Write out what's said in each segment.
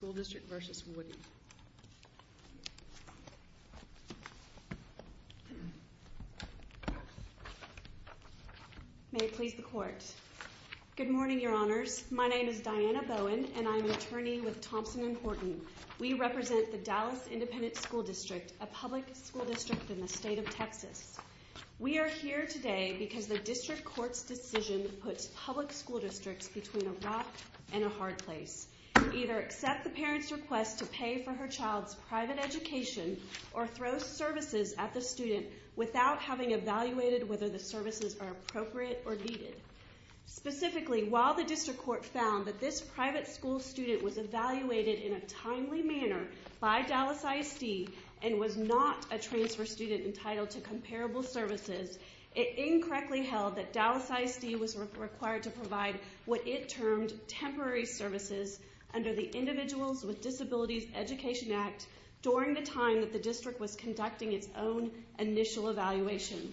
Good morning, Your Honors. My name is Diana Bowen, and I'm an attorney with Thompson & Horton. We represent the Dallas Independent School District, a public school district in the state of Texas. We are here today because the district court's decision puts public school districts between a rock and a hard place. to either accept the parent's request to pay for her child's private education or throw services at the student without having evaluated whether the services are appropriate or needed. Specifically, while the district court found that this private school student was evaluated in a timely manner by Dallas ISD and was not a transfer student entitled to comparable services, it incorrectly held that Dallas ISD was required to provide what it termed temporary services under the Individuals with Disabilities Education Act during the time that the district was conducting its own initial evaluation.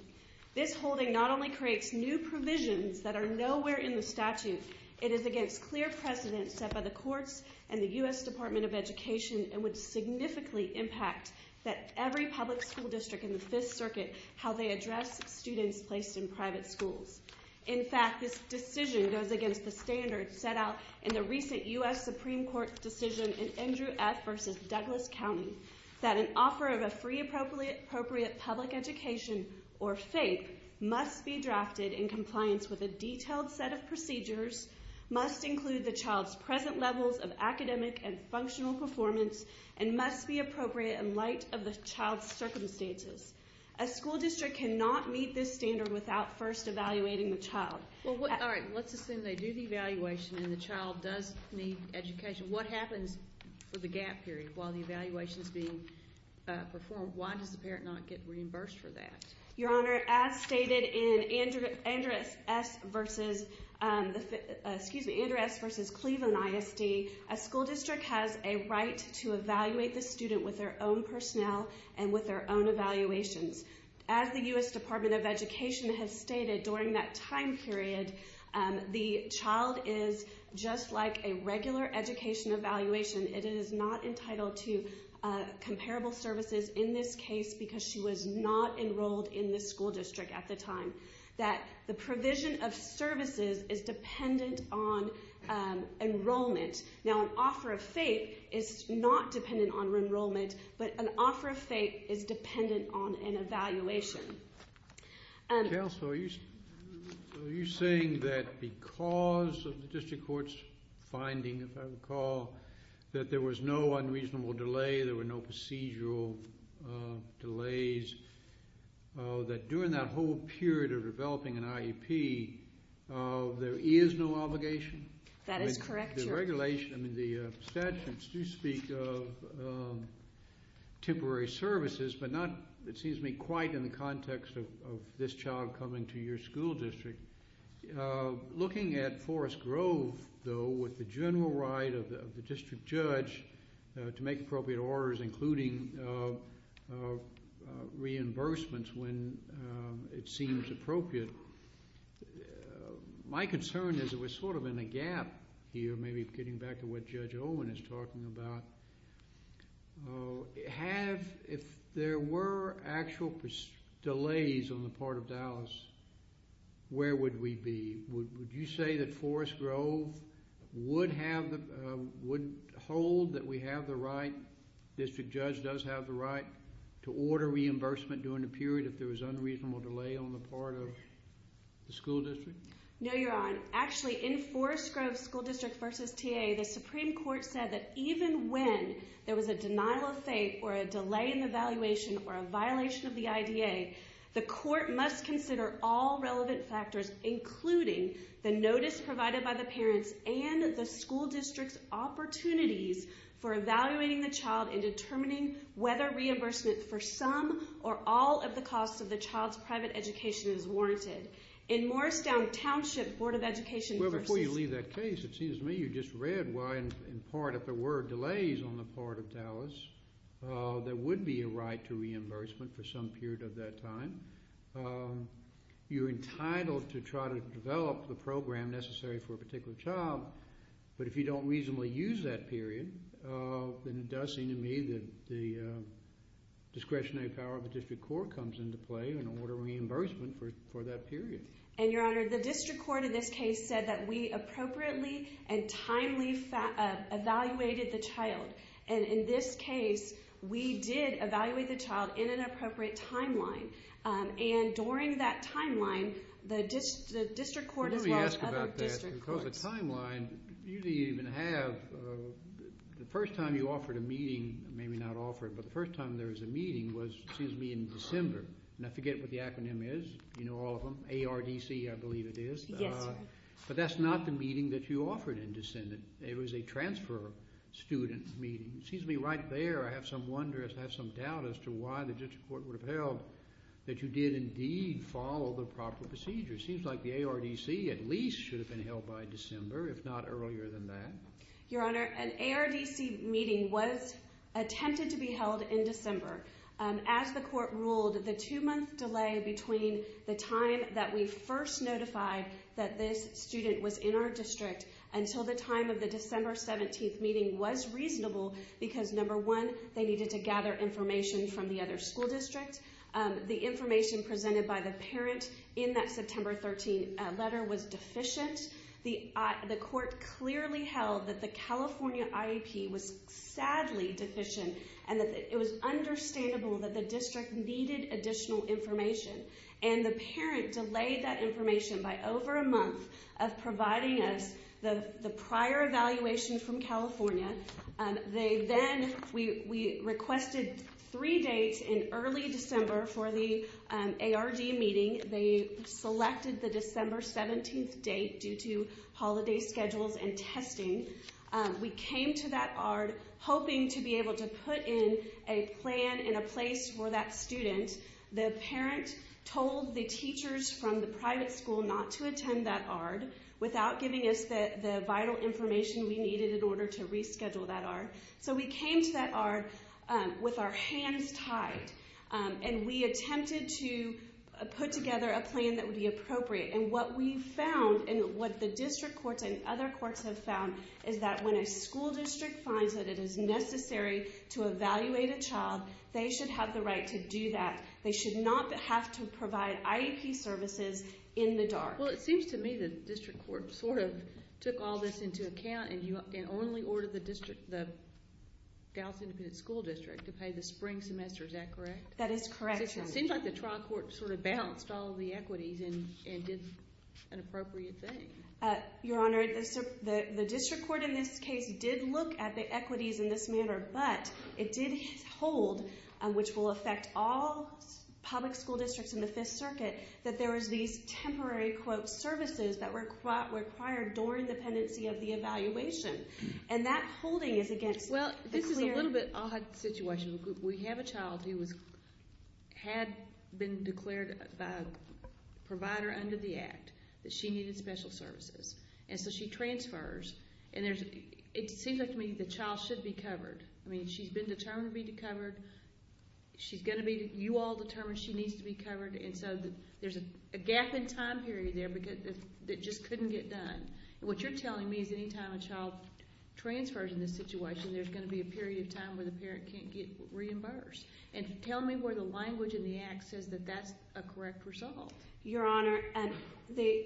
This holding not only creates new provisions that are nowhere in the statute, it is against clear precedence set by the courts and the U.S. Department of Education and would significantly impact that every public school district in the Fifth Circuit, how they address students placed in private schools. In fact, this decision goes against the standards set out in the recent U.S. Supreme Court decision in Andrew F. v. Douglas County that an offer of a free appropriate public education, or FAPE, must be drafted in compliance with a detailed set of procedures, must include the child's present levels of academic and functional performance, and must be appropriate in light of the child's circumstances. A school district cannot meet this standard without first evaluating the child. All right, let's assume they do the evaluation and the child does need education. What happens for the gap period while the evaluation is being performed? Why does the parent not get reimbursed for that? Your Honor, as stated in Andrew S. v. Cleveland ISD, a school district has a right to evaluate the student with their own personnel and with their own evaluations. As the U.S. Department of Education has stated, during that time period, the child is just like a regular education evaluation. It is not entitled to comparable services in this case because she was not enrolled in the school district at the time. That the provision of services is dependent on enrollment. Now, an offer of FAPE is not dependent on enrollment, but an offer of FAPE is dependent on an evaluation. Counsel, are you saying that because of the district court's finding, if I recall, that there was no unreasonable delay, there were no procedural delays, that during that whole period of developing an IEP, there is no obligation? That is correct, Your Honor. The regulations, the statutes do speak of temporary services, but not, it seems to me, quite in the context of this child coming to your school district. Looking at Forest Grove, though, with the general right of the district judge to make appropriate orders, including reimbursements when it seems appropriate, my concern is that we're sort of in a gap here, maybe getting back to what Judge Owen is talking about. If there were actual delays on the part of Dallas, where would we be? Would you say that Forest Grove would hold that we have the right, the district judge does have the right, to order reimbursement during the period if there was unreasonable delay on the part of the school district? No, Your Honor. Actually, in Forest Grove School District v. TA, the Supreme Court said that even when there was a denial of FAPE or a delay in the evaluation or a violation of the IDA, the court must consider all relevant factors, including the notice provided by the parents and the school district's opportunities for evaluating the child and determining whether reimbursement for some or all of the costs of the child's private education is warranted. In Morristown Township Board of Education v. Well, before you leave that case, it seems to me you just read why, in part, if there were delays on the part of Dallas, there would be a right to reimbursement for some period of that time. You're entitled to try to develop the program necessary for a particular child, but if you don't reasonably use that period, then it does seem to me that the discretionary power of the district court comes into play in order of reimbursement for that period. And, Your Honor, the district court in this case said that we appropriately and timely evaluated the child. And in this case, we did evaluate the child in an appropriate timeline. And during that timeline, the district court as well as other district courts… Let me ask about that. Because the timeline, you didn't even have… The first time you offered a meeting, maybe not offered, but the first time there was a meeting was, it seems to me, in December. And I forget what the acronym is. You know all of them. ARDC, I believe it is. Yes. But that's not the meeting that you offered in December. It was a transfer student meeting. It seems to me right there, I have some wonder, I have some doubt as to why the district court would have held that you did indeed follow the proper procedure. It seems like the ARDC at least should have been held by December, if not earlier than that. Your Honor, an ARDC meeting was attempted to be held in December. As the court ruled, the two-month delay between the time that we first notified that this student was in our district until the time of the December 17th meeting was reasonable because number one, they needed to gather information from the other school district. The information presented by the parent in that September 13th letter was deficient. The court clearly held that the California IEP was sadly deficient and that it was understandable that the district needed additional information. And the parent delayed that information by over a month of providing us the prior evaluation from California. We requested three dates in early December for the ARDC meeting. They selected the December 17th date due to holiday schedules and testing. We came to that ARDC hoping to be able to put in a plan and a place for that student. The parent told the teachers from the private school not to attend that ARDC without giving us the vital information we needed in order to reschedule that ARDC. So we came to that ARDC with our hands tied. And we attempted to put together a plan that would be appropriate. And what we found and what the district courts and other courts have found is that when a school district finds that it is necessary to evaluate a child, they should have the right to do that. They should not have to provide IEP services in the dark. Well, it seems to me the district court sort of took all this into account and only ordered the Dallas Independent School District to pay the spring semester. Is that correct? That is correct, Your Honor. It seems like the trial court sort of balanced all the equities and did an appropriate thing. Your Honor, the district court in this case did look at the equities in this manner, but it did hold, which will affect all public school districts in the Fifth Circuit, that there was these temporary, quote, services that were required during the pendency of the evaluation. And that holding is against the clear. Well, this is a little bit odd situation. We have a child who had been declared by a provider under the Act that she needed special services. And so she transfers. And it seems like to me the child should be covered. I mean, she's been determined to be covered. She's going to be. You all determined she needs to be covered. And so there's a gap in time period there that just couldn't get done. What you're telling me is any time a child transfers in this situation, there's going to be a period of time where the parent can't get reimbursed. And tell me where the language in the Act says that that's a correct result. Your Honor, the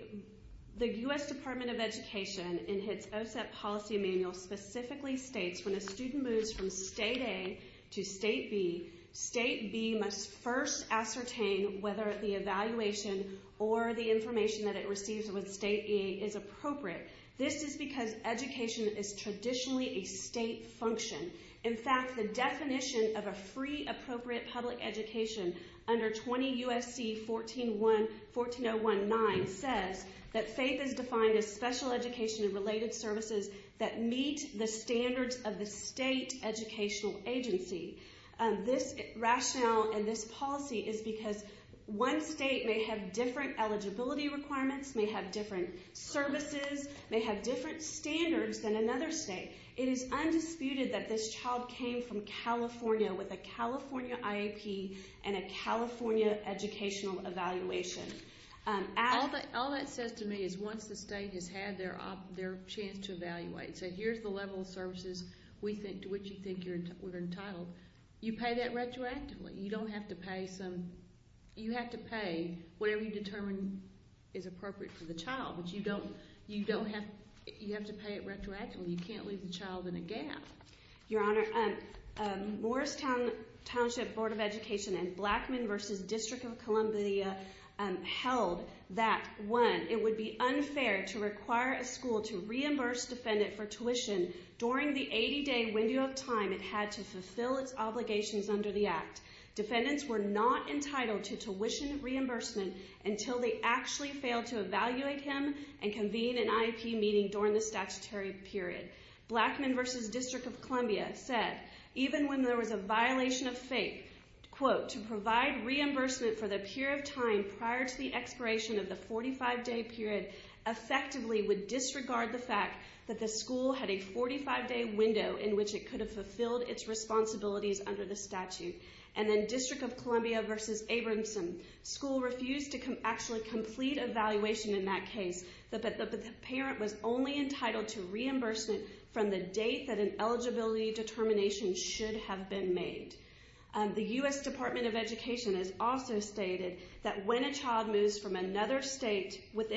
U.S. Department of Education in its OSEP policy manual specifically states when a student moves from State A to State B, State B must first ascertain whether the evaluation or the information that it receives with State A is appropriate. This is because education is traditionally a state function. In fact, the definition of a free appropriate public education under 20 U.S.C. 14019 says that faith is defined as special education and related services that meet the standards of the state educational agency. This rationale and this policy is because one state may have different eligibility requirements, may have different services, may have different standards than another state. It is undisputed that this child came from California with a California IEP and a California educational evaluation. All that says to me is once the state has had their chance to evaluate, so here's the level of services to which you think you're entitled, you pay that retroactively. You have to pay whatever you determine is appropriate for the child, but you have to pay it retroactively. You can't leave the child in a gap. Your Honor, Morristown Township Board of Education and Blackmun v. District of Columbia held that, one, it would be unfair to require a school to reimburse a defendant for tuition during the 80-day window of time it had to fulfill its obligations under the Act. Defendants were not entitled to tuition reimbursement until they actually failed to evaluate him and convene an IEP meeting during the statutory period. Blackmun v. District of Columbia said, even when there was a violation of faith, quote, to provide reimbursement for the period of time prior to the expiration of the 45-day period effectively would disregard the fact that the school had a 45-day window in which it could have fulfilled its responsibilities under the statute. And then District of Columbia v. Abramson School refused to actually complete evaluation in that case, but the parent was only entitled to reimbursement from the date that an eligibility determination should have been made. The U.S. Department of Education has also stated that when a child moves from another state with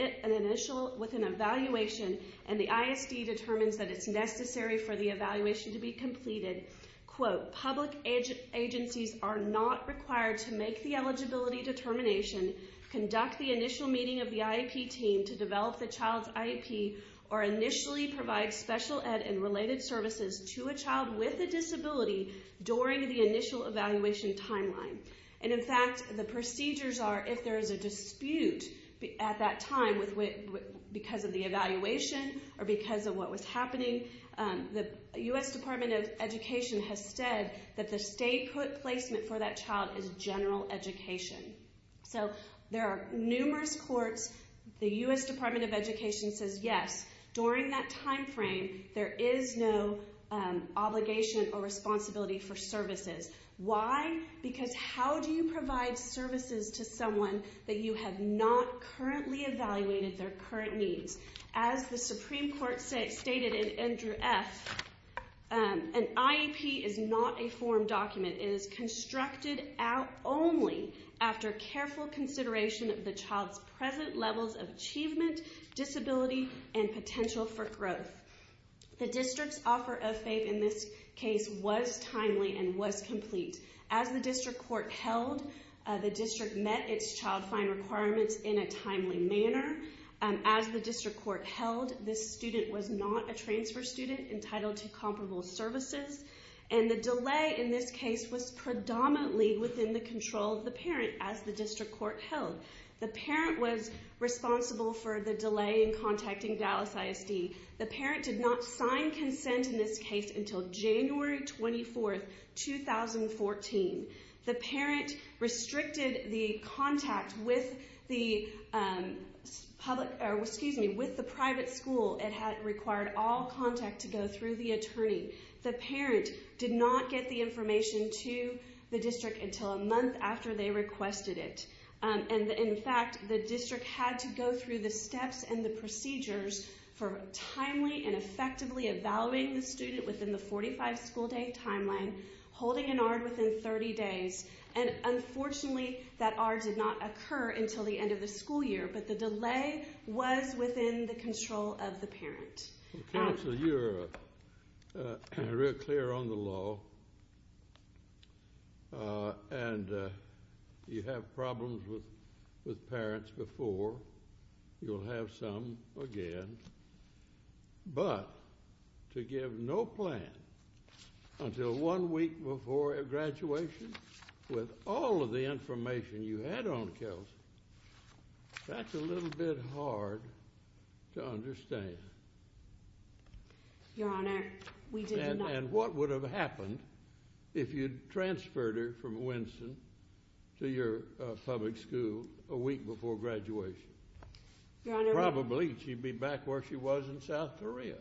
an evaluation and the ISD determines that it's necessary for the evaluation to be completed, quote, public agencies are not required to make the eligibility determination, conduct the initial meeting of the IEP team to develop the child's IEP, or initially provide special ed and related services to a child with a disability during the initial evaluation timeline. And, in fact, the procedures are if there is a dispute at that time because of the evaluation or because of what was happening, the U.S. Department of Education has said that the state placement for that child is general education. So there are numerous courts. The U.S. Department of Education says, yes, during that timeframe, there is no obligation or responsibility for services. Why? Because how do you provide services to someone that you have not currently evaluated their current needs? As the Supreme Court stated in Andrew F., an IEP is not a form document. It is constructed out only after careful consideration of the child's present levels of achievement, disability, and potential for growth. The district's offer of FAPE in this case was timely and was complete. As the district court held, the district met its child find requirements in a timely manner. As the district court held, this student was not a transfer student entitled to comparable services. And the delay in this case was predominantly within the control of the parent, as the district court held. The parent was responsible for the delay in contacting Dallas ISD. The parent did not sign consent in this case until January 24, 2014. The parent restricted the contact with the private school. The parent did not get the information to the district until a month after they requested it. And, in fact, the district had to go through the steps and the procedures for timely and effectively evaluating the student within the 45-school-day timeline, holding an ARD within 30 days. And, unfortunately, that ARD did not occur until the end of the school year. But the delay was within the control of the parent. Counsel, you're real clear on the law. And you have problems with parents before. You'll have some again. But to give no plan until one week before graduation with all of the information you had on Kelsey, that's a little bit hard to understand. Your Honor, we did not— And what would have happened if you'd transferred her from Winston to your public school a week before graduation? Your Honor— Probably she'd be back where she was in South Korea.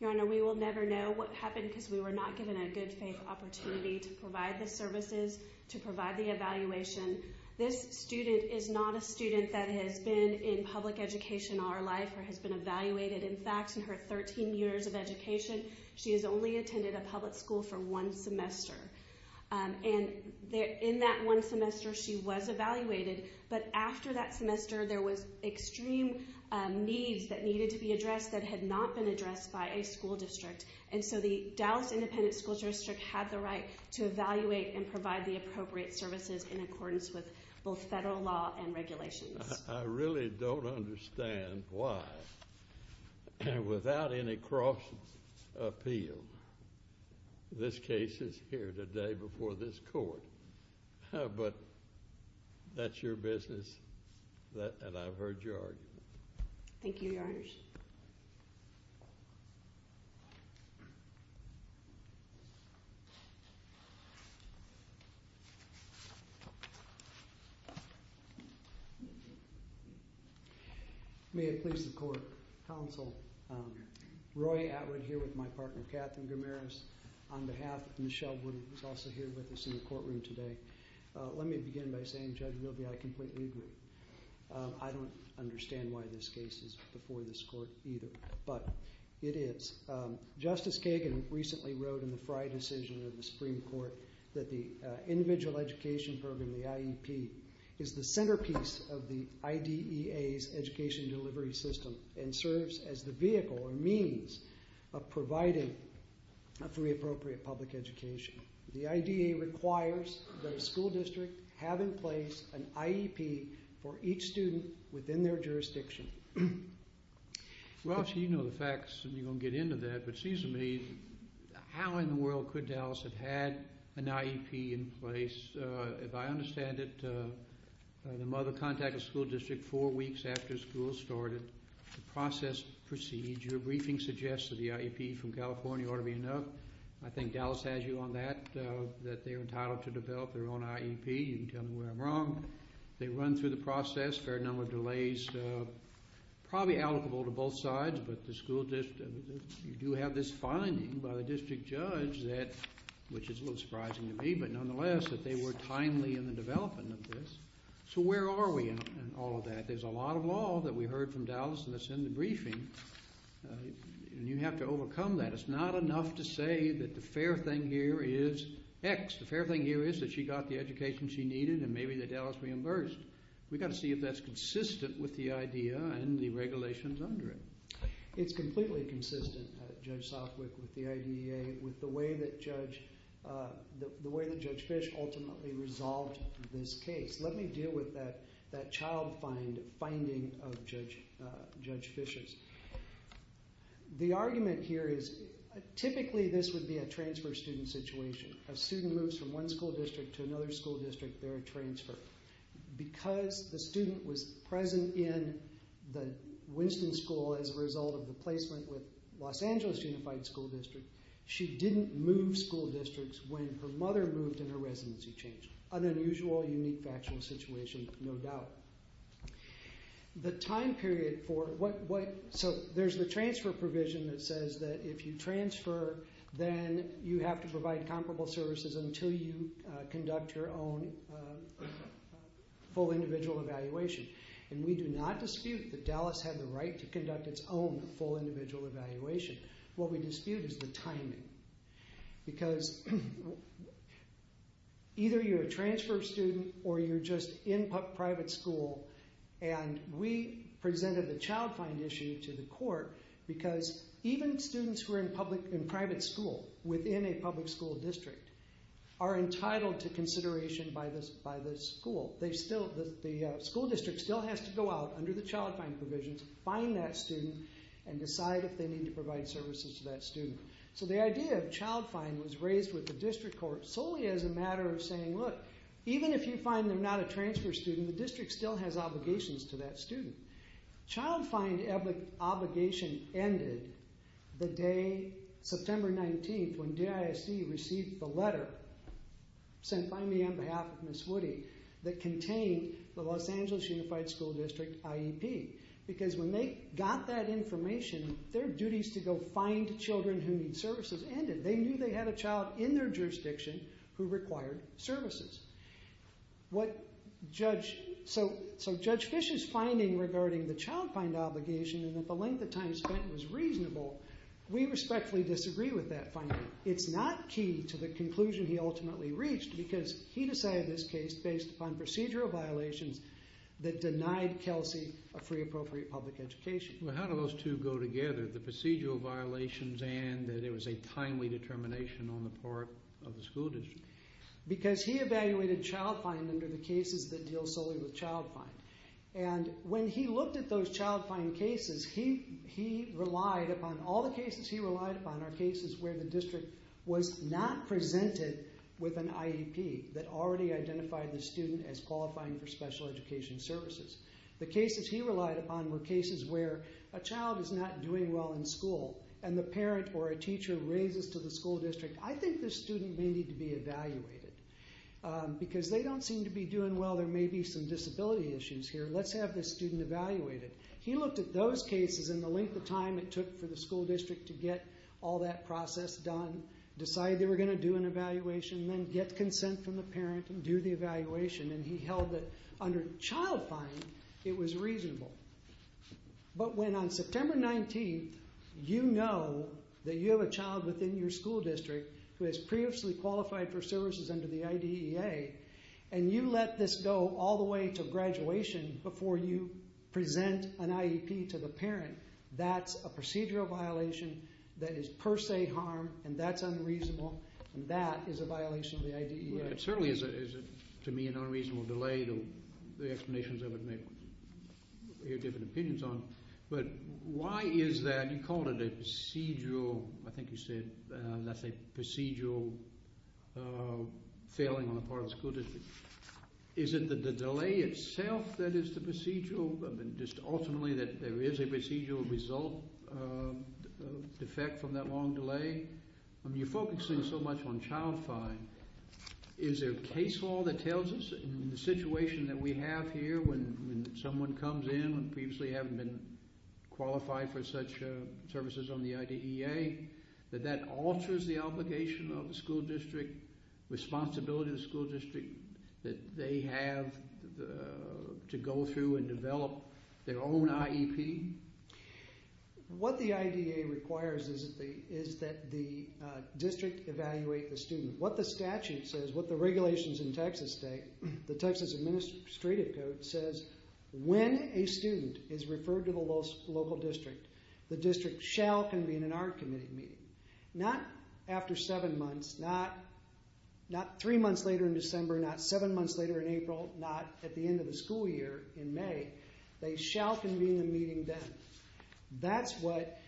Your Honor, we will never know what happened because we were not given a good-faith opportunity to provide the services, to provide the evaluation. This student is not a student that has been in public education all her life or has been evaluated. In fact, in her 13 years of education, she has only attended a public school for one semester. And in that one semester, she was evaluated. But after that semester, there was extreme needs that needed to be addressed that had not been addressed by a school district. And so the Dallas Independent School District had the right to evaluate and provide the appropriate services in accordance with both federal law and regulations. I really don't understand why, without any cross-appeal, this case is here today before this Court. But that's your business, and I've heard your argument. Thank you, Your Honors. May it please the Court, Counsel, Roy Atwood here with my partner, Katherine Gamaris, on behalf of Michelle Wood, who is also here with us in the courtroom today. Let me begin by saying, Judge Willoughby, I completely agree. I don't understand why this case is before this Court either, but it is. Justice Kagan recently wrote in the Frey decision of the Supreme Court that the Individual Education Program, the IEP, is the centerpiece of the IDEA's education delivery system and serves as the vehicle or means of providing a free, appropriate public education. The IDEA requires that a school district have in place an IEP for each student within their jurisdiction. Well, you know the facts, and you're going to get into that, but it seems to me, how in the world could Dallas have had an IEP in place? If I understand it, the mother contacted the school district four weeks after school started to process the procedure. Your briefing suggests that the IEP from California ought to be enough. I think Dallas has you on that, that they are entitled to develop their own IEP. You can tell them where I'm wrong. They run through the process, a fair number of delays, probably allocable to both sides, but the school district, you do have this finding by the district judge that, which is a little surprising to me, but nonetheless, that they were timely in the development of this. So where are we in all of that? There's a lot of law that we heard from Dallas that's in the briefing, and you have to overcome that. It's not enough to say that the fair thing here is X. The fair thing here is that she got the education she needed and maybe that Dallas reimbursed. We've got to see if that's consistent with the IDEA and the regulations under it. It's completely consistent, Judge Southwick, with the IDEA, with the way that Judge Fish ultimately resolved this case. Let me deal with that child finding of Judge Fish's. The argument here is typically this would be a transfer student situation. A student moves from one school district to another school district, they're a transfer. Because the student was present in the Winston School as a result of the placement with Los Angeles Unified School District, she didn't move school districts when her mother moved and her residency changed. An unusual, unique, factual situation, no doubt. There's the transfer provision that says that if you transfer, then you have to provide comparable services until you conduct your own full individual evaluation. We do not dispute that Dallas had the right to conduct its own full individual evaluation. What we dispute is the timing. Because either you're a transfer student or you're just in private school. We presented the child find issue to the court because even students who are in private school, within a public school district, are entitled to consideration by the school. The school district still has to go out under the child find provisions, find that student, and decide if they need to provide services to that student. The idea of child find was raised with the district court solely as a matter of saying, look, even if you find they're not a transfer student, the district still has obligations to that student. Child find obligation ended the day, September 19th, when DISD received the letter sent by me on behalf of Ms. Woody that contained the Los Angeles Unified School District IEP. Because when they got that information, their duties to go find children who need services ended. They knew they had a child in their jurisdiction who required services. Judge Fish's finding regarding the child find obligation and that the length of time spent was reasonable, we respectfully disagree with that finding. It's not key to the conclusion he ultimately reached because he decided this case based upon procedural violations that denied Kelsey a free appropriate public education. Well, how do those two go together? The procedural violations and that it was a timely determination on the part of the school district? Because he evaluated child find under the cases that deal solely with child find. And when he looked at those child find cases, he relied upon all the cases he relied upon are cases where the district was not presented with an IEP that already identified the student as qualifying for special education services. The cases he relied upon were cases where a child is not doing well in school and the parent or a teacher raises to the school district, I think this student may need to be evaluated. Because they don't seem to be doing well, there may be some disability issues here. Let's have this student evaluated. He looked at those cases and the length of time it took for the school district to get all that process done, decide they were going to do an evaluation, then get consent from the parent and do the evaluation. And he held that under child find, it was reasonable. But when on September 19th, you know that you have a child within your school district who has previously qualified for services under the IDEA, and you let this go all the way to graduation before you present an IEP to the parent, that's a procedural violation that is per se harm, and that's unreasonable, and that is a violation of the IDEA. It certainly is, to me, an unreasonable delay. The explanations of it may give different opinions on it. But why is that? You called it a procedural, I think you said that's a procedural failing on the part of the school district. Is it the delay itself that is the procedural? Just ultimately that there is a procedural result of defect from that long delay? I mean, you're focusing so much on child find. Is there case law that tells us in the situation that we have here when someone comes in and previously haven't been qualified for such services on the IDEA, that that alters the obligation of the school district, responsibility of the school district, that they have to go through and develop their own IEP? What the IDEA requires is that the district evaluate the student. What the statute says, what the regulations in Texas state, the Texas Administrative Code says, when a student is referred to the local district, the district shall convene an art committee meeting. Not after seven months, not three months later in December, not seven months later in April, not at the end of the school year in May. They shall convene a meeting then. That's what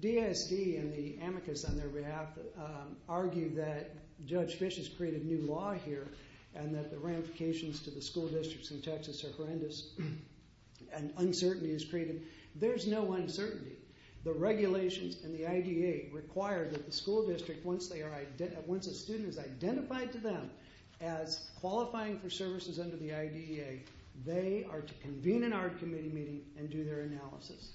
DSD and the amicus on their behalf argue that Judge Fish has created new law here and that the ramifications to the school districts in Texas are horrendous and uncertainty is created. There's no uncertainty. The regulations and the IDEA require that the school district, once a student is identified to them as qualifying for services under the IDEA, they are to convene an art committee meeting and do their analysis.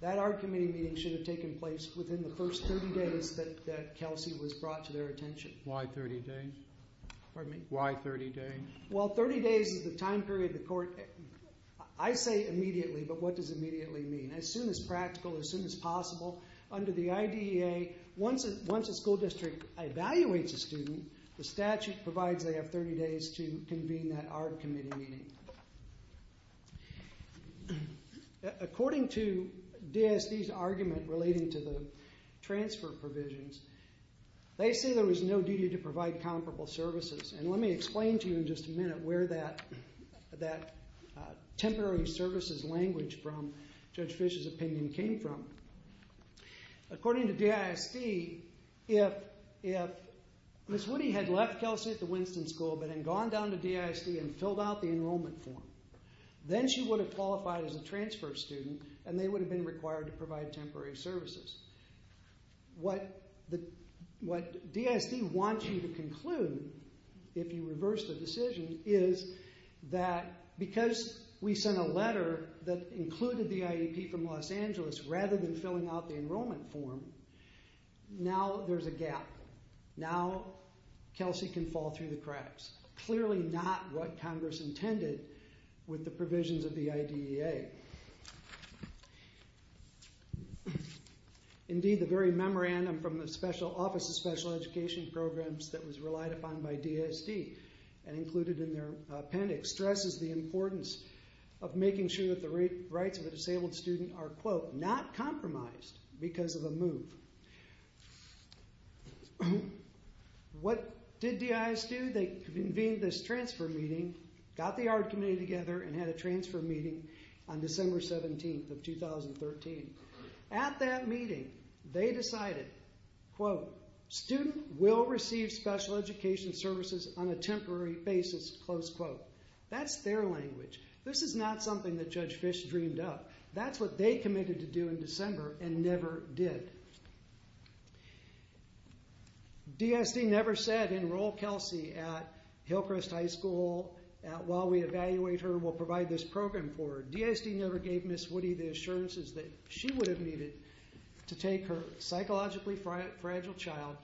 That art committee meeting should have taken place within the first 30 days that Kelsey was brought to their attention. Why 30 days? Pardon me? Why 30 days? Well, 30 days is the time period the court, I say immediately, but what does immediately mean? As soon as practical, as soon as possible. Under the IDEA, once a school district evaluates a student, the statute provides they have 30 days to convene that art committee meeting. According to DSD's argument relating to the transfer provisions, they say there was no duty to provide comparable services. And let me explain to you in just a minute where that temporary services language from Judge Fish's opinion came from. According to DSD, if Ms. Woody had left Kelsey at the Winston School but had gone down to DSD and filled out the enrollment form, then she would have qualified as a transfer student and they would have been required to provide temporary services. What DSD wants you to conclude, if you reverse the decision, is that because we sent a letter that included the IEP from Los Angeles rather than filling out the enrollment form, now there's a gap. Now Kelsey can fall through the cracks. Clearly not what Congress intended with the provisions of the IDEA. Indeed, the very memorandum from the Office of Special Education Programs that was relied upon by DSD and included in their appendix stresses the importance of making sure that the rights of a disabled student are, quote, not compromised because of a move. What did DIS do? They convened this transfer meeting, got the ARD committee together, and had a transfer meeting on December 17th of 2013. At that meeting, they decided, quote, student will receive special education services on a temporary basis, close quote. That's their language. This is not something that Judge Fish dreamed up. That's what they committed to do in December and never did. DSD never said enroll Kelsey at Hillcrest High School while we evaluate her and we'll provide this program for her. DSD never gave Ms. Woody the assurances that she would have needed to take her psychologically fragile child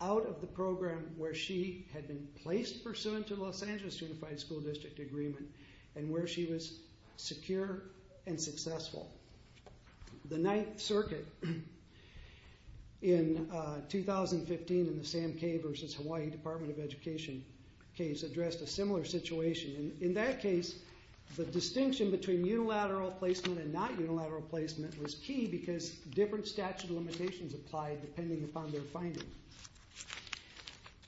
out of the program where she had been placed pursuant to the Los Angeles Unified School District Agreement and where she was secure and successful. The Ninth Circuit in 2015 in the Sam K. versus Hawaii Department of Education case addressed a similar situation. In that case, the distinction between unilateral placement and not unilateral placement was key because different statute of limitations applied depending upon their finding.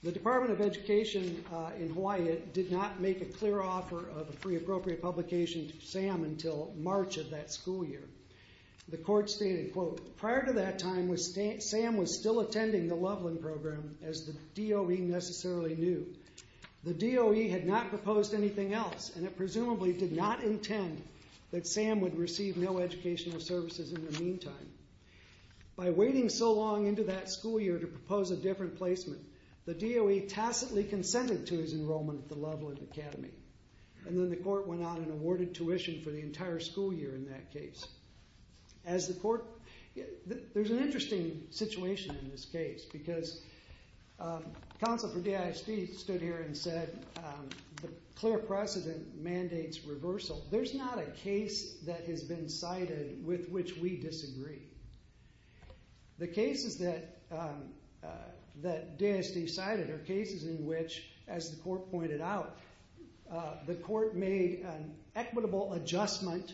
The Department of Education in Hawaii did not make a clear offer of a free appropriate publication to Sam until March of that school year. The court stated, quote, prior to that time, Sam was still attending the Loveland program as the DOE necessarily knew. The DOE had not proposed anything else and it presumably did not intend that Sam would receive no educational services in the meantime. By waiting so long into that school year to propose a different placement, the DOE tacitly consented to his enrollment at the Loveland Academy. Then the court went out and awarded tuition for the entire school year in that case. There's an interesting situation in this case because counsel for DSD stood here and said, the clear precedent mandates reversal. There's not a case that has been cited with which we disagree. The cases that DSD cited are cases in which, as the court pointed out, the court made an equitable adjustment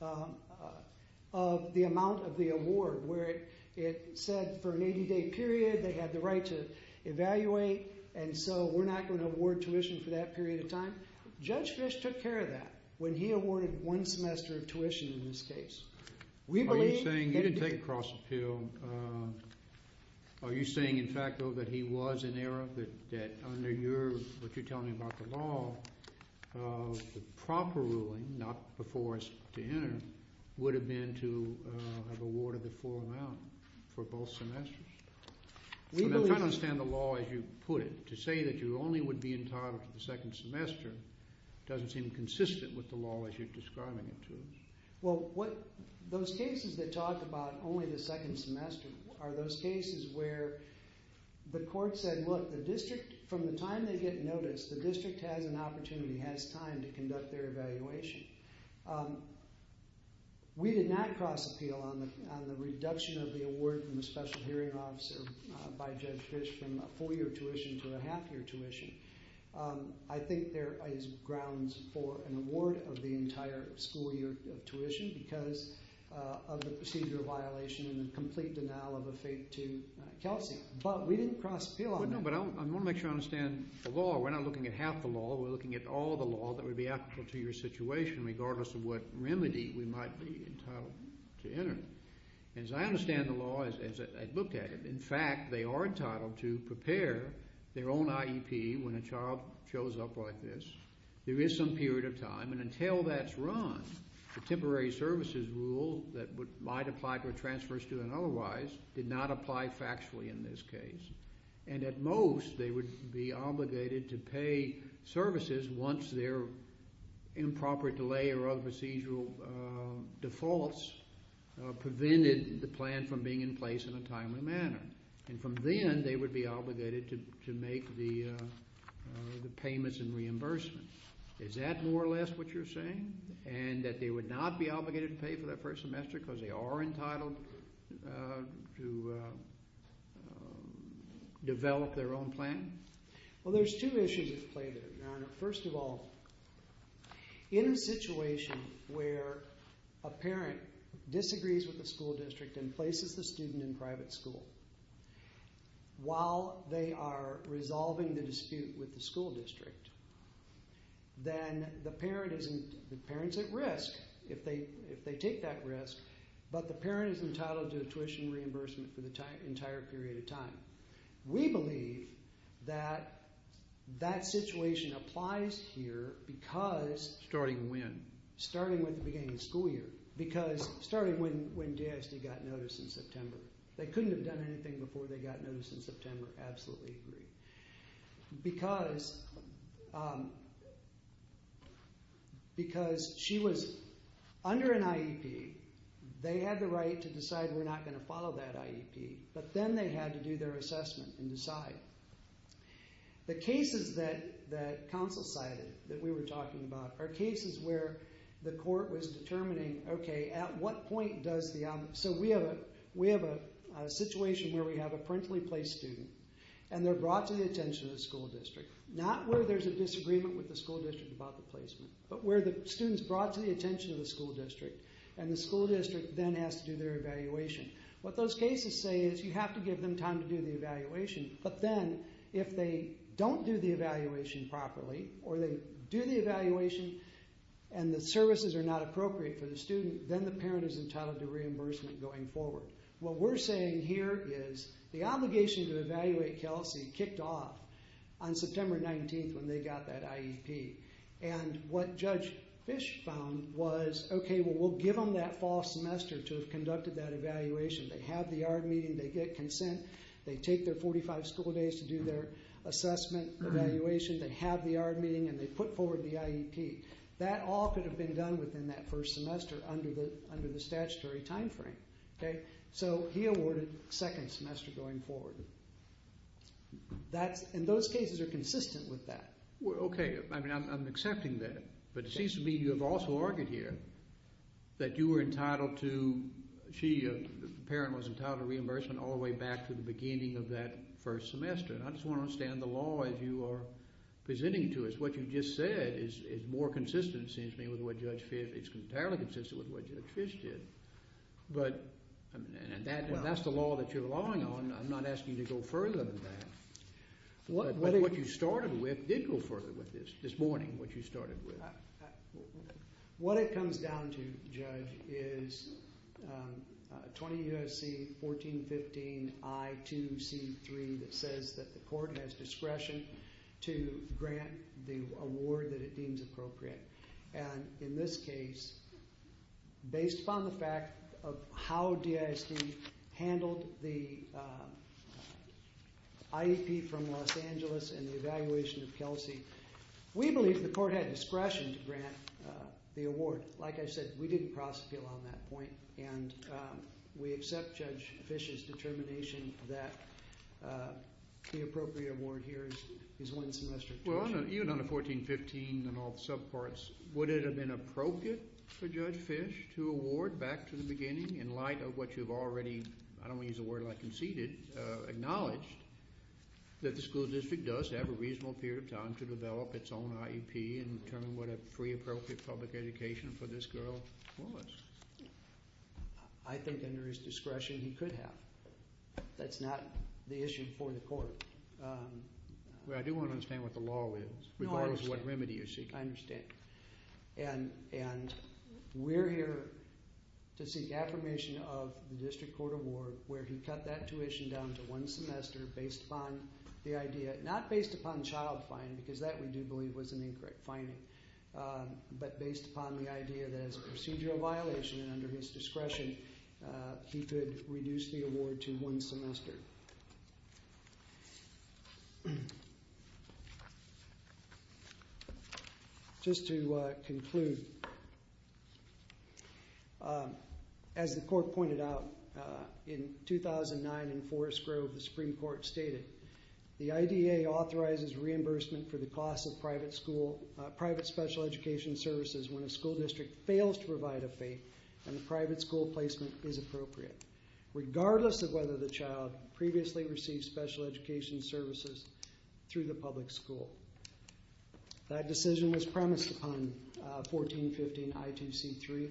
of the amount of the award where it said for an 80-day period they had the right to evaluate and so we're not going to award tuition for that period of time. Judge Fish took care of that when he awarded one semester of tuition in this case. Are you saying you didn't take a cross appeal? Are you saying, in fact, though, that he was in error? That under what you're telling me about the law, the proper ruling, not before us to enter, would have been to have awarded the full amount for both semesters? I'm trying to understand the law as you put it. To say that you only would be entitled to the second semester doesn't seem consistent with the law as you're describing it to us. Those cases that talk about only the second semester are those cases where the court said, look, the district, from the time they get notice, the district has an opportunity, has time to conduct their evaluation. We did not cross appeal on the reduction of the award from the special hearing officer by Judge Fish from a four-year tuition to a half-year tuition. I think there is grounds for an award of the entire school year of tuition because of the procedure violation and the complete denial of a fate to Kelsey. But we didn't cross appeal on that. I want to make sure I understand the law. We're not looking at half the law. We're looking at all the law that would be applicable to your situation regardless of what remedy we might be entitled to enter. As I understand the law, as I looked at it, in fact, they are entitled to prepare their own IEP when a child shows up like this. There is some period of time, and until that's run, the temporary services rule that might apply to a transfer student otherwise did not apply factually in this case. And at most, they would be obligated to pay services once their improper delay or other procedural defaults prevented the plan from being in place in a timely manner. And from then, they would be obligated to make the payments and reimbursement. Is that more or less what you're saying, and that they would not be obligated to pay for their first semester because they are entitled to develop their own plan? Well, there's two issues at play there, Your Honor. First of all, in a situation where a parent disagrees with the school district and places the student in private school while they are resolving the dispute with the school district, then the parent is at risk if they take that risk, but the parent is entitled to a tuition reimbursement for the entire period of time. We believe that that situation applies here because... Starting when? Starting with the beginning of the school year. Because starting when DSD got noticed in September. They couldn't have done anything before they got noticed in September. Absolutely agree. Because she was under an IEP, they had the right to decide we're not going to follow that IEP, but then they had to do their assessment and decide. The cases that counsel cited that we were talking about are cases where the court was determining, okay, at what point does the... So we have a situation where we have a parentally placed student, and they're brought to the attention of the school district. Not where there's a disagreement with the school district about the placement, but where the student's brought to the attention of the school district, and the school district then has to do their evaluation. What those cases say is you have to give them time to do the evaluation, but then if they don't do the evaluation properly, or they do the evaluation and the services are not appropriate for the student, then the parent is entitled to reimbursement going forward. What we're saying here is the obligation to evaluate Kelsey kicked off on September 19th when they got that IEP. And what Judge Fish found was, okay, well, we'll give them that fall semester to have conducted that evaluation. They have the ARD meeting, they get consent, they take their 45 school days to do their assessment evaluation, they have the ARD meeting, and they put forward the IEP. That all could have been done within that first semester under the statutory timeframe. So he awarded second semester going forward. And those cases are consistent with that. Okay, I'm accepting that, but it seems to me you have also argued here that you were entitled to, she, the parent was entitled to reimbursement all the way back to the beginning of that first semester. And I just want to understand the law as you are presenting to us. What you just said is more consistent, it seems to me, with what Judge Fish did. It's entirely consistent with what Judge Fish did. But that's the law that you're relying on. I'm not asking you to go further than that. But what you started with did go further with this, this morning what you started with. What it comes down to, Judge, is 20 U.S.C. 1415 I2C3 that says that the court has discretion to grant the award that it deems appropriate. And in this case, based upon the fact of how DISD handled the IEP from Los Angeles and the evaluation of Kelsey, we believe the court had discretion to grant the award. Like I said, we didn't prosecute on that point. And we accept Judge Fish's determination that the appropriate award here is one semester. Well, even under 1415 and all the subparts, would it have been appropriate for Judge Fish to award back to the beginning in light of what you've already, I don't want to use a word like conceded, acknowledged that the school district does have a reasonable period of time to develop its own IEP and determine what a free appropriate public education for this girl was? I think under his discretion he could have. That's not the issue before the court. Well, I do want to understand what the law is, regardless of what remedy you're seeking. I understand. And we're here to seek affirmation of the district court award where he cut that tuition down to one semester based upon the idea, not based upon child fine, because that we do believe was an incorrect finding, but based upon the idea that as a procedural violation and under his discretion, he could reduce the award to one semester. Thank you. Just to conclude, as the court pointed out, in 2009 in Forest Grove the Supreme Court stated, the IDA authorizes reimbursement for the cost of private school, private special education services when a school district fails to provide a fee and the private school placement is appropriate. Regardless of whether the child previously received special education services through the public school. That decision was premised upon 1415 I2C3.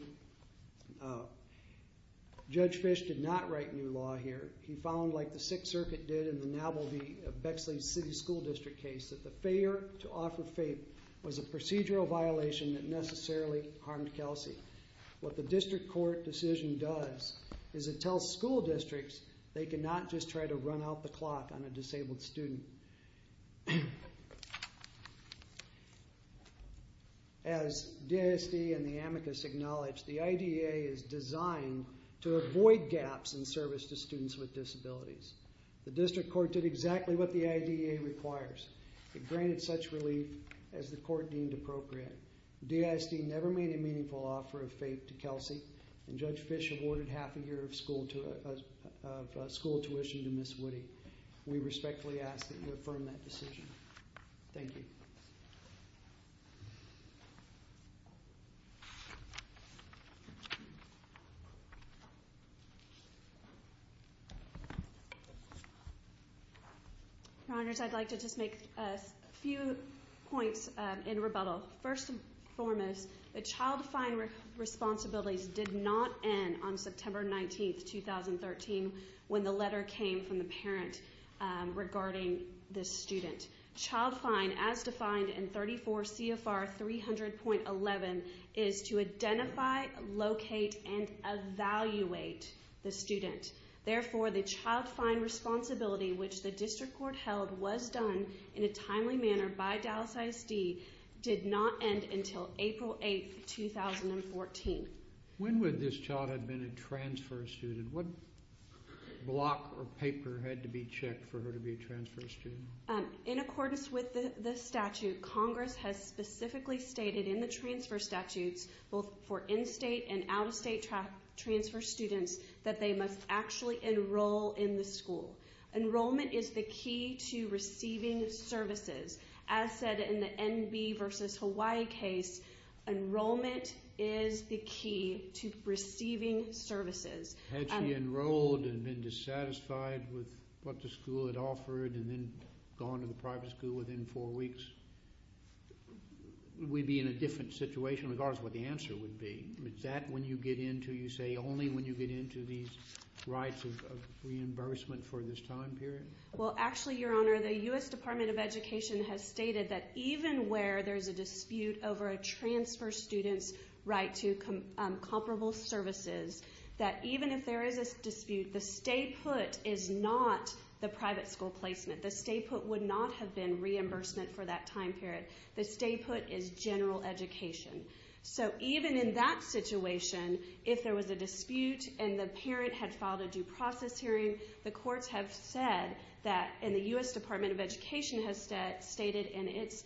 Judge Fish did not write new law here. He found, like the Sixth Circuit did in the Nabal v. Bexley City School District case, that the failure to offer FAPE was a procedural violation that necessarily harmed Kelsey. What the district court decision does is it tells school districts they cannot just try to run out the clock on a disabled student. As DISD and the amicus acknowledge, the IDA is designed to avoid gaps in service to students with disabilities. The district court did exactly what the IDA requires. It granted such relief as the court deemed appropriate. DISD never made a meaningful offer of FAPE to Kelsey and Judge Fish awarded half a year of school tuition to Ms. Woody. We respectfully ask that you affirm that decision. Thank you. Your Honors, I'd like to just make a few points in rebuttal. First and foremost, the child fine responsibilities did not end on September 19, 2013 when the letter came from the parent regarding this student. Child fine, as defined in 34 CFR 300.11, is to identify, locate, and evaluate the student. Therefore, the child fine responsibility which the district court held was done in a timely manner by Dallas ISD did not end until April 8, 2014. When would this child have been a transfer student? What block or paper had to be checked for her to be a transfer student? In accordance with the statute, Congress has specifically stated in the transfer statutes both for in-state and out-of-state transfer students that they must actually enroll in the school. Enrollment is the key to receiving services. As said in the NB versus Hawaii case, enrollment is the key to receiving services. Had she enrolled and been dissatisfied with what the school had offered and then gone to the private school within four weeks, we'd be in a different situation regardless of what the answer would be. You say only when you get into these rights of reimbursement for this time period? Actually, Your Honor, the U.S. Department of Education has stated that even where there's a dispute over a transfer student's right to comparable services, that even if there is a dispute, the stay put is not the private school placement. The stay put would not have been reimbursement for that time period. The stay put is general education. So even in that situation, if there was a dispute and the parent had filed a due process hearing, the courts have said that, and the U.S. Department of Education has stated in its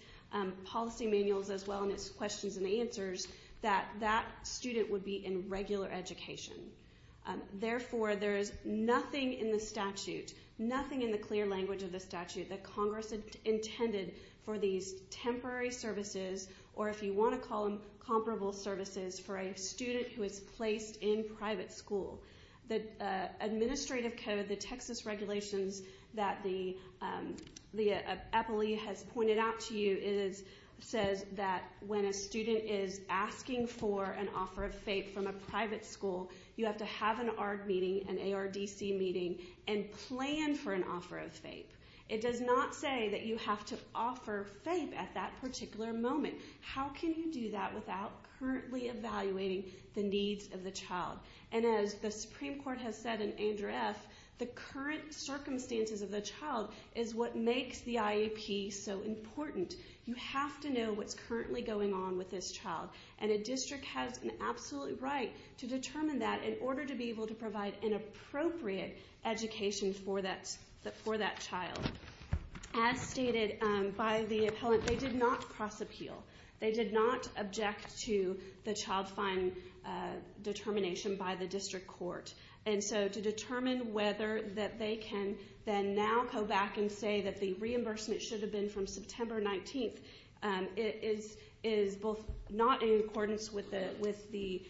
policy manuals as well in its questions and answers, that that student would be in regular education. Therefore, there is nothing in the statute, nothing in the clear language of the statute, that Congress intended for these temporary services or if you want to call them comparable services for a student who is placed in private school. The administrative code, the Texas regulations that the appellee has pointed out to you, says that when a student is asking for an offer of FAPE from a private school, you have to have an ARDC meeting and plan for an offer of FAPE. It does not say that you have to offer FAPE at that particular moment. How can you do that without currently evaluating the needs of the child? And as the Supreme Court has said in Andrew F., the current circumstances of the child is what makes the IEP so important. You have to know what's currently going on with this child. And a district has an absolute right to determine that in order to be able to provide an appropriate education for that child. As stated by the appellant, they did not cross-appeal. They did not object to the child fine determination by the district court. And so to determine whether that they can then now go back and say that the reimbursement should have been from September 19th is both not in accordance with the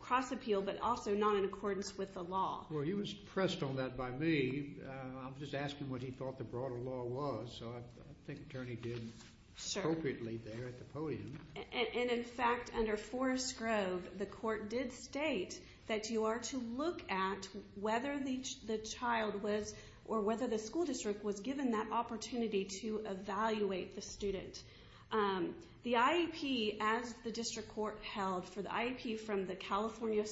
cross-appeal but also not in accordance with the law. Well, he was pressed on that by me. I'm just asking what he thought the broader law was. So I think the attorney did appropriately there at the podium. And, in fact, under Forest Grove, the court did state that you are to look at whether the child was or whether the school district was given that opportunity to evaluate the student. The IEP, as the district court held for the IEP from the California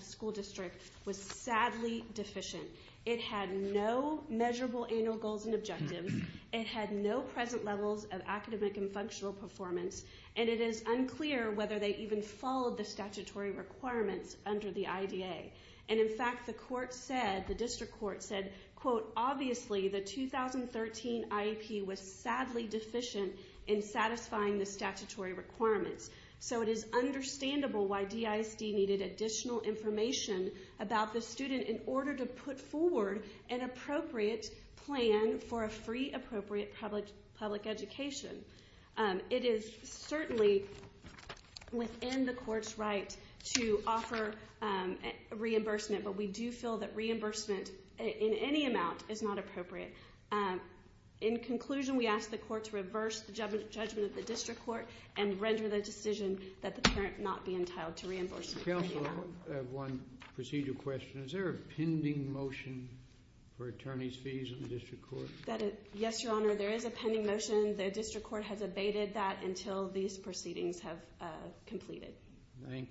school district, was sadly deficient. It had no measurable annual goals and objectives. It had no present levels of academic and functional performance. And it is unclear whether they even followed the statutory requirements under the IDA. And, in fact, the court said, the district court said, quote, obviously the 2013 IEP was sadly deficient in satisfying the statutory requirements. So it is understandable why DISD needed additional information about the student in order to put forward an appropriate plan for a free appropriate public education. It is certainly within the court's right to offer reimbursement, but we do feel that reimbursement in any amount is not appropriate. In conclusion, we ask the court to reverse the judgment of the district court and render the decision that the parent not be entitled to reimbursement. Counsel, I have one procedural question. Is there a pending motion for attorney's fees in the district court? Yes, Your Honor, there is a pending motion. The district court has abated that until these proceedings have completed. Thank you.